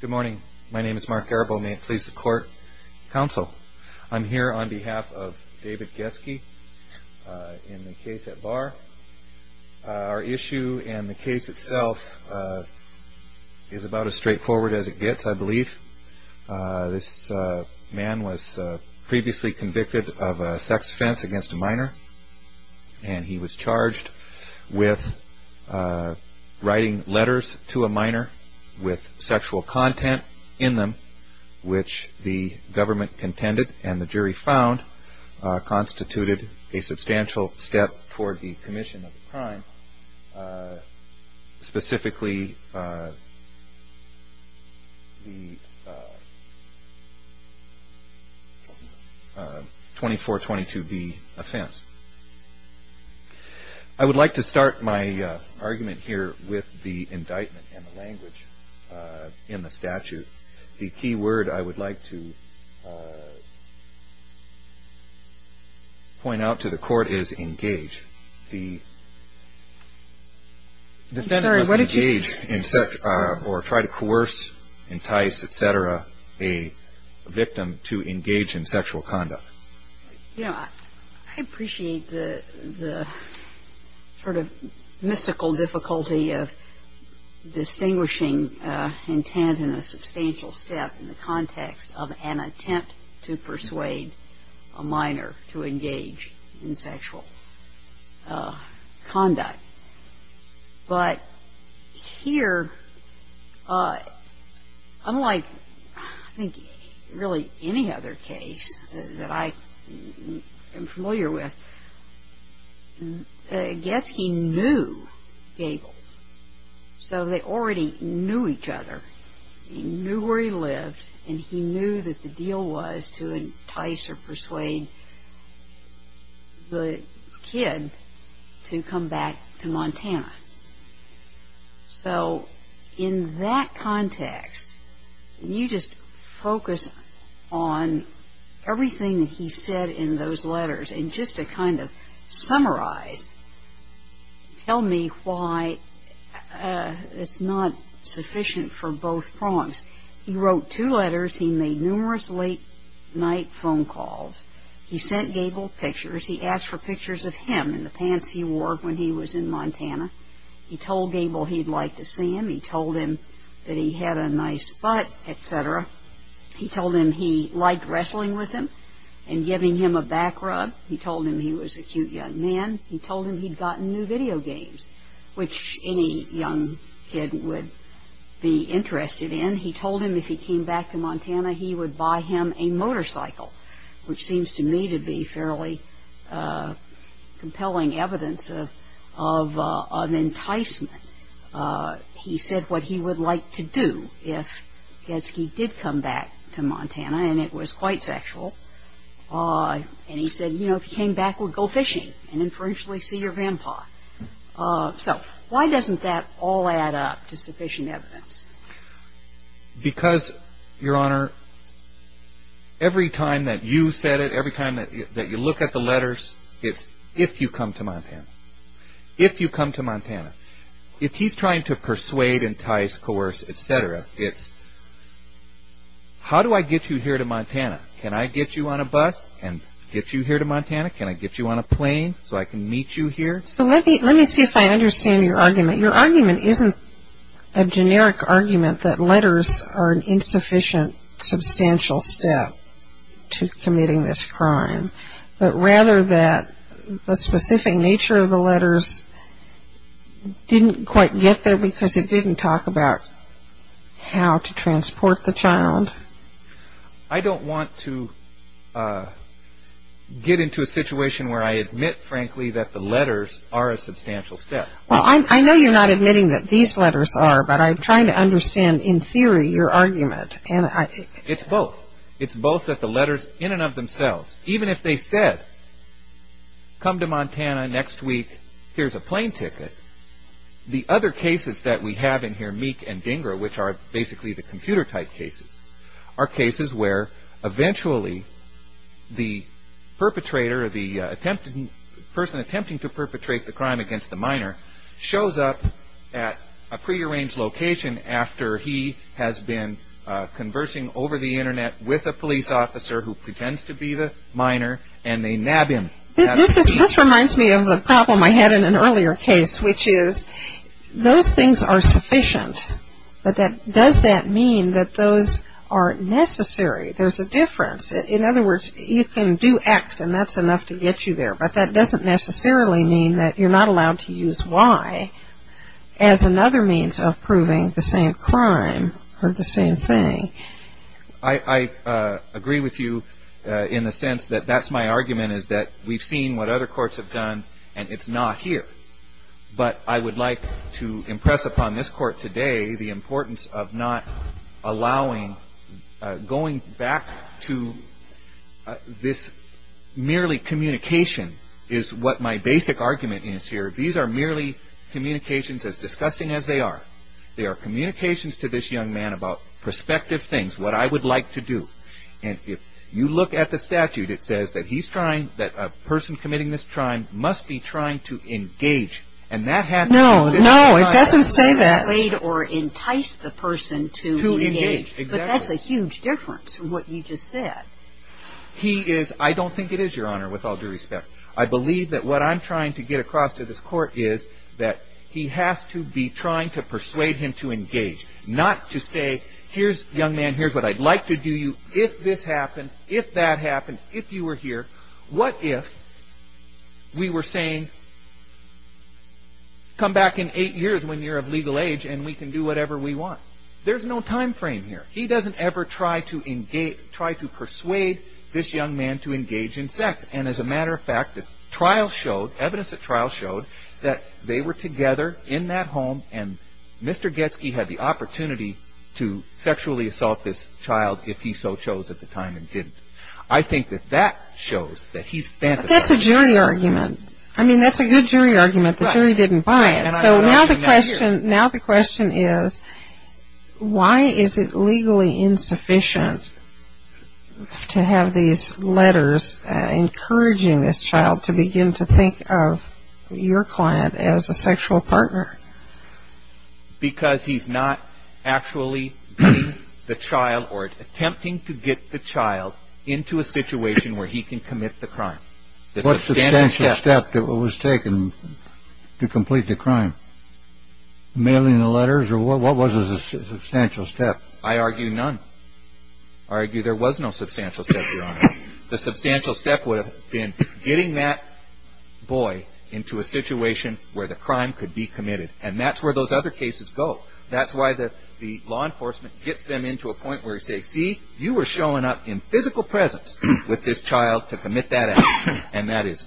Good morning, my name is Mark Garbo, and may it please the Court, Counsel. I'm here on behalf of David Goetzke in the case at Bar. Our issue and the case itself is about as straightforward as it gets, I believe. This man was previously convicted of a sex offense against a minor, and he was charged with writing letters to a minor with sexual content in them, which the government contended and the jury found constituted a substantial step toward the commission of the crime, specifically the 2422B offense. I would like to start my argument here with the indictment and the language in the statute. The key word I would like to point out to the defendant was to engage or try to coerce, entice, et cetera, a victim to engage in sexual conduct. You know, I appreciate the sort of mystical difficulty of distinguishing intent in a substantial step in the conduct. But here, unlike, I think, really any other case that I am familiar with, Goetzke knew Gables. So they already knew each other. He knew where he lived, and he knew that the deal was to entice or persuade the kid to come back to Montana. So in that context, you just focus on everything that he said in those letters. And just to kind of summarize, tell me why it's not sufficient for both prongs. He wrote two letters. He made numerous late night phone calls. He sent Gable pictures. He asked for pictures of him in the pants he wore when he was in Montana. He told Gable he'd like to see him. He told him that he had a nice butt, et cetera. He told him he liked wrestling with him and giving him a back rub. He told him he was a cute young man. He told him he'd gotten new a motorcycle, which seems to me to be fairly compelling evidence of an enticement. He said what he would like to do if Goetzke did come back to Montana, and it was quite sexual. And he said, you know, if he came back, we'd go fishing and inferentially see your vampire. So why doesn't that all add up to sufficient evidence? Because, Your Honor, every time that you said it, every time that you look at the letters, it's if you come to Montana. If you come to Montana. If he's trying to persuade, entice, coerce, et cetera, it's how do I get you here to Montana? Can I get you on a bus and get you here to Montana? Can I get you on a plane so I can meet you here? So let me see if I understand your argument. Your argument isn't a generic argument that letters are an insufficient, substantial step to committing this crime, but rather that the specific nature of the letters didn't quite get there because it didn't talk about how to transport the child. I don't want to get into a situation where I admit, frankly, that the letters are a substantial step. Well, I know you're not admitting that these letters are, but I'm trying to understand, in theory, your argument. It's both. It's both that the letters in and of themselves, even if they said, come to Montana next week, here's a plane ticket, the other cases that we have in here, Meek and Dinger, which are basically the computer type cases, are cases where eventually the perpetrator or the person attempting to perpetrate the crime against the minor shows up at a prearranged location after he has been conversing over the Internet with a police officer who pretends to be the minor and they nab him. This reminds me of a problem I had in an earlier case, which is those things are sufficient, but does that mean that those are necessary? There's a difference. In other words, you can do X and that's enough to get you there, but that doesn't necessarily mean that you're not allowed to use Y as another means of proving the same crime or the same thing. I agree with you in the sense that that's my argument, is that we've seen what other courts have done and it's not here. But I would like to impress upon this Court today the importance of not allowing, going back to this merely communication is what my basic argument is here. These are merely communications, as disgusting as they are. They are communications to this young man about perspective things, what I would like to do. And if you look at the statute, it says that he's trying, that a person committing this crime must be trying to engage. And that has to be this young man. No, no, it doesn't say that. To persuade or entice the person to engage. To engage, exactly. But that's a huge difference from what you just said. He is, I don't think it is, Your Honor, with all due respect. I believe that what I'm trying to get across to this Court is that he has to be trying to persuade him to engage. Not to say, here's young man, here's what I'd like to do you, if this happened, if that happened, if you were here, what if we were saying, come back in eight years when you're of legal age and we can do whatever we want. There's no time frame here. He doesn't ever try to engage, try to persuade this young man to engage in sex. And as a matter of fact, the trial showed, evidence at trial showed, that they were together in that home and Mr. Getsky had the opportunity to sexually assault this child if he so chose at the time and didn't. I think that that shows that he's fantasizing. But that's a jury argument. I mean, that's a good jury argument. The jury didn't buy it. So now the question is, why is it legally insufficient to have these letters encouraging this child to begin to think of your client as a sexual partner? Because he's not actually getting the child or attempting to get the child into a situation where he can commit the crime. What substantial step was taken to complete the crime? Mailing the letters or what was a substantial step? I argue none. I argue there was no substantial step, Your Honor. The substantial step would have been getting that boy into a situation where the crime could be committed. And that's where those other cases go. That's why the law enforcement gets them into a point where they say, see, you were showing up in physical presence with this child to commit that act and that is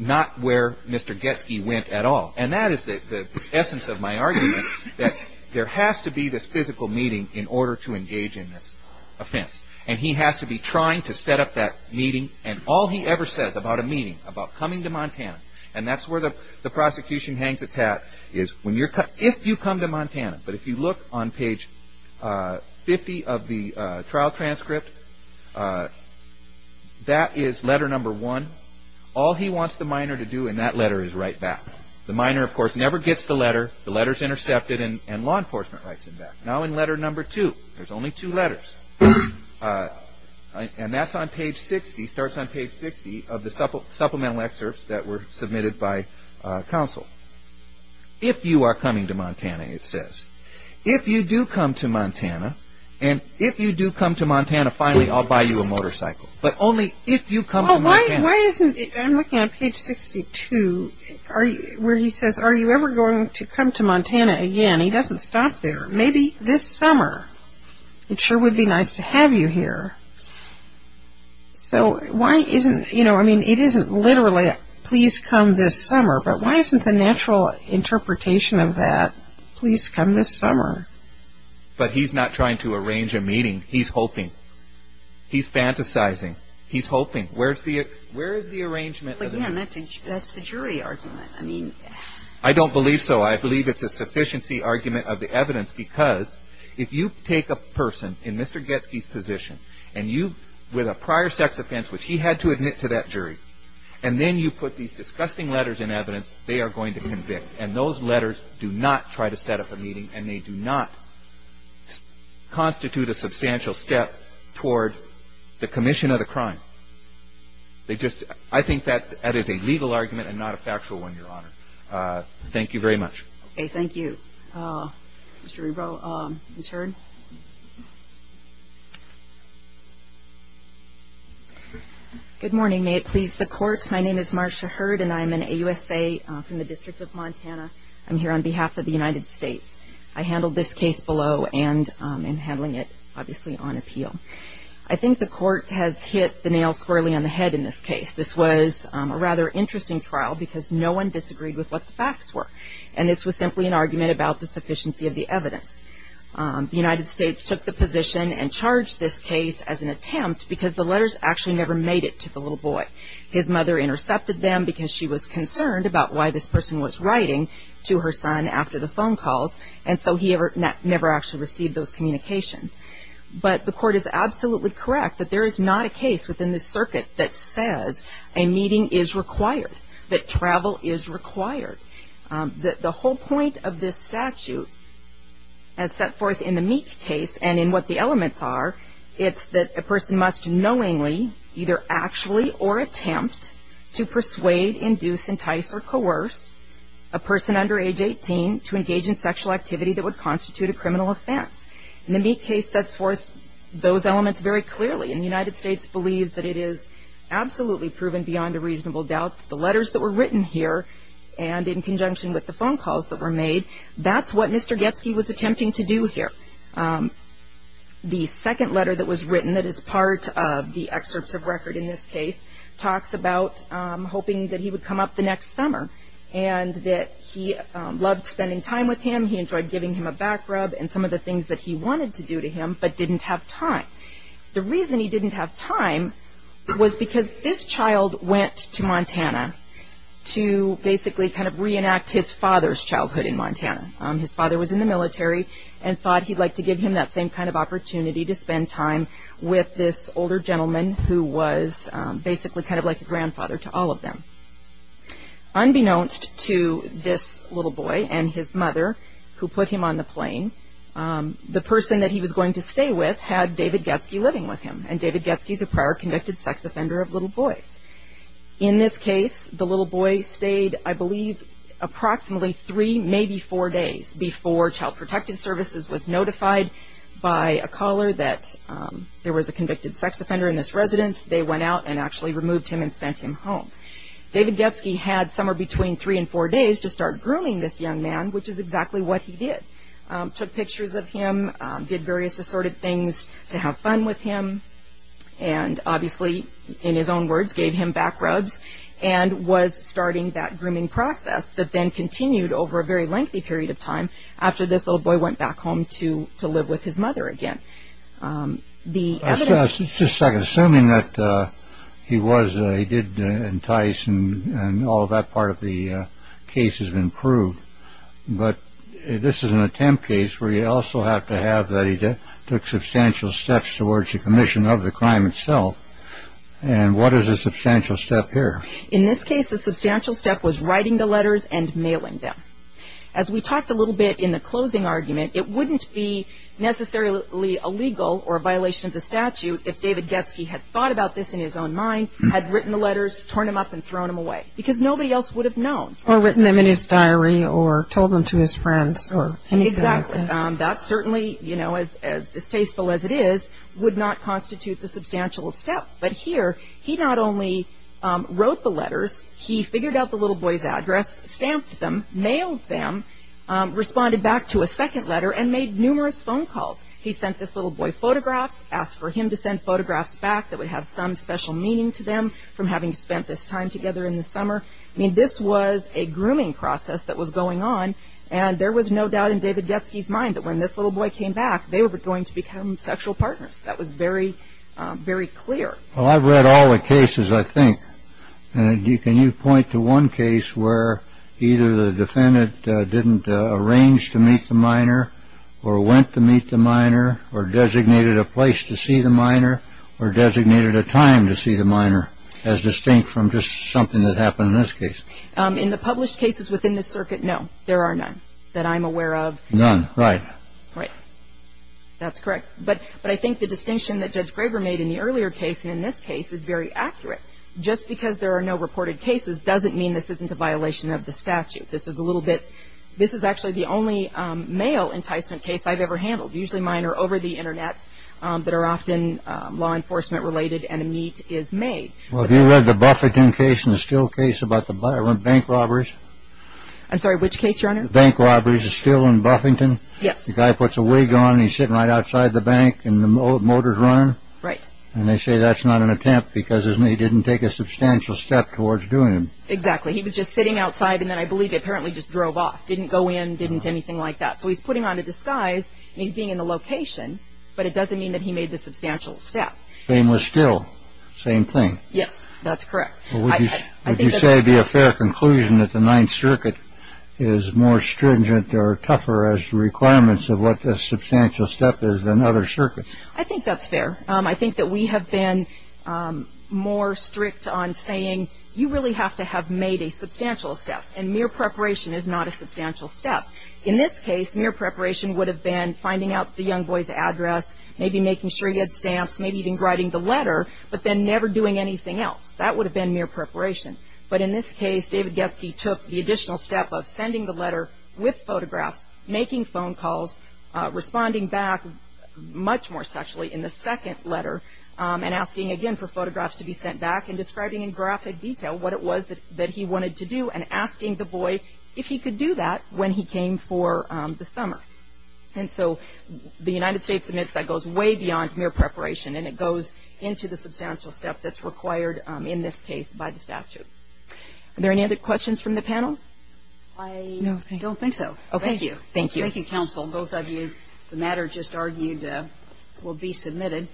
not where Mr. Getsky went at all. And that is the essence of my argument, that there has to be this physical meeting in order to engage in this offense. And he has to be trying to set up that meeting and all he ever says about a meeting, about coming to Montana, and that's where the prosecution hangs its hat, is if you come to Montana, but if you look on page 50 of the trial transcript, that is letter number one. All he wants the minor to do in that letter is write back. The minor, of course, never gets the letter. The letter is intercepted and law enforcement writes him back. Now in letter number two, there's only two letters, and that's on page 60, starts on page 60 of the supplemental excerpts that were submitted by counsel. If you are coming to Montana, it says. If you do come to Montana, and if you do come to Montana, finally I'll buy you a motorcycle. But only if you come to Montana. Why isn't, I'm looking on page 62, where he says, are you ever going to come to Montana again? He doesn't stop there. Maybe this summer. It sure would be nice to have you here. So why isn't, I mean, it isn't literally, please come this summer, but why isn't the natural interpretation of that, please come this summer? But he's not trying to arrange a meeting. He's hoping. He's fantasizing. He's hoping. Where is the arrangement? But again, that's the jury argument. I don't believe so. I believe it's a sufficiency argument of the evidence, because if you take a person in Mr. Getsky's position, and you, with a prior sex offense, which he had to admit to that jury, and then you put these disgusting letters in evidence, they are going to convict. And those letters do not try to set up a meeting, and they do not constitute a substantial step toward the commission of the crime. They just, I think that is a legal argument and not a factual one, Your Honor. Thank you very much. Okay. Thank you. Mr. Ebro, Ms. Hurd. Good morning. May it please the Court. My name is Marcia Hurd, and I'm an AUSA from the District of Montana. I'm here on behalf of the United States. I handled this case below and am handling it, obviously, on appeal. I think the Court has hit the nail squarely on the head in this case. This was a rather interesting trial because no one disagreed with what the facts were, and this was simply an argument about the sufficiency of the evidence. The United States took the position and charged this case as an attempt because the letters actually never made it to the little boy. His mother intercepted them because she was concerned about why this person was writing to her son after the phone calls, and so he never actually received those communications. But the Court is absolutely correct that there is not a case within this circuit that says a meeting is required, that travel is required. The whole point of this statute as set forth in the Meek case and in what the elements are, it's that a person must knowingly either actually or attempt to persuade, induce, entice, or coerce a person under age 18 to engage in sexual activity that would constitute a criminal offense. And the Meek case sets forth those elements very clearly, and the United States believes that it is absolutely proven beyond a reasonable doubt that the letters that were written here and in conjunction with the phone calls that were made, that's what Mr. Getsky was attempting to do here. The second letter that was written that is part of the excerpts of record in this case talks about hoping that he would come up the next summer and that he loved spending time with him, he enjoyed giving him a back rub and some of the things that he wanted to do to him but didn't have time. The reason he didn't have time was because this child went to Montana to basically kind of reenact his father's childhood in Montana. His father was in the military and thought he'd like to give him that same kind of opportunity to spend time with this older gentleman who was basically kind of like a grandfather to all of them. Unbeknownst to this little boy and his mother who put him on the plane, the person that he was going to stay with had David Getsky living with him, and David Getsky is a prior convicted sex offender of little boys. In this case, the little boy stayed, I believe, approximately three, maybe four days before Child Protective Services was notified by a caller that there was a convicted sex offender in this residence. They went out and actually removed him and sent him home. David Getsky had somewhere between three and four days to start grooming this young man, which is exactly what he did. Took pictures of him, did various assorted things to have fun with him, and obviously, in his own words, gave him back rubs and was starting that grooming process that then continued over a very lengthy period of time after this little boy went back home to live with his mother again. Just a second. Assuming that he did entice and all of that part of the case has been proved, but this is an attempt case where you also have to have that he took substantial steps towards the commission of the crime itself, and what is a substantial step here? In this case, the substantial step was writing the letters and mailing them. As we talked a little bit in the closing argument, it wouldn't be necessarily illegal or a violation of the statute if David Getsky had thought about this in his own mind, had written the letters, torn them up and thrown them away, because nobody else would have known. Or written them in his diary or told them to his friends or anything like that. Exactly. That certainly, you know, as distasteful as it is, would not constitute the substantial step. But here, he not only wrote the letters, he figured out the little boy's address, stamped them, mailed them, responded back to a second letter and made numerous phone calls. He sent this little boy photographs, asked for him to send photographs back that would have some special meaning to them from having spent this time together in the summer. I mean, this was a grooming process that was going on, and there was no doubt in David Getsky's mind that when this little boy came back, they were going to become sexual partners. That was very, very clear. Well, I've read all the cases, I think. And can you point to one case where either the defendant didn't arrange to meet the minor or went to meet the minor or designated a place to see the minor or designated a time to see the minor, as distinct from just something that happened in this case? In the published cases within this circuit, no. There are none that I'm aware of. None. Right. Right. That's correct. But I think the distinction that Judge Graber made in the earlier case and in this case is very accurate. Just because there are no reported cases doesn't mean this isn't a violation of the statute. This is a little bit ‑‑ this is actually the only male enticement case I've ever handled. Usually mine are over the Internet but are often law enforcement related and a meet is made. Well, have you read the Buffington case and the Steele case about the bank robberies? I'm sorry. Which case, Your Honor? The bank robberies. The Steele and Buffington. Yes. The guy puts a wig on and he's sitting right outside the bank and the motor's running. Right. And they say that's not an attempt because he didn't take a substantial step towards doing it. Exactly. He was just sitting outside and then I believe he apparently just drove off. Didn't go in, didn't anything like that. So he's putting on a disguise and he's being in the location, but it doesn't mean that he made the substantial step. Same with Steele. Same thing. Yes. That's correct. Would you say it would be a fair conclusion that the Ninth Circuit is more stringent or tougher as to requirements of what the substantial step is than other circuits? I think that's fair. I think that we have been more strict on saying you really have to have made a substantial step and mere preparation is not a substantial step. In this case, mere preparation would have been finding out the young boy's address, maybe making sure he had stamps, maybe even writing the letter, but then never doing anything else. That would have been mere preparation. But in this case, David Getzke took the additional step of sending the letter with photographs, making phone calls, responding back much more sexually in the second letter, and asking again for photographs to be sent back and describing in graphic detail what it was that he wanted to do and asking the boy if he could do that when he came for the summer. And so the United States admits that goes way beyond mere preparation and it goes into the substantial step that's required in this case by the statute. Are there any other questions from the panel? I don't think so. Thank you. Thank you, counsel. Both of you, the matter just argued will be submitted.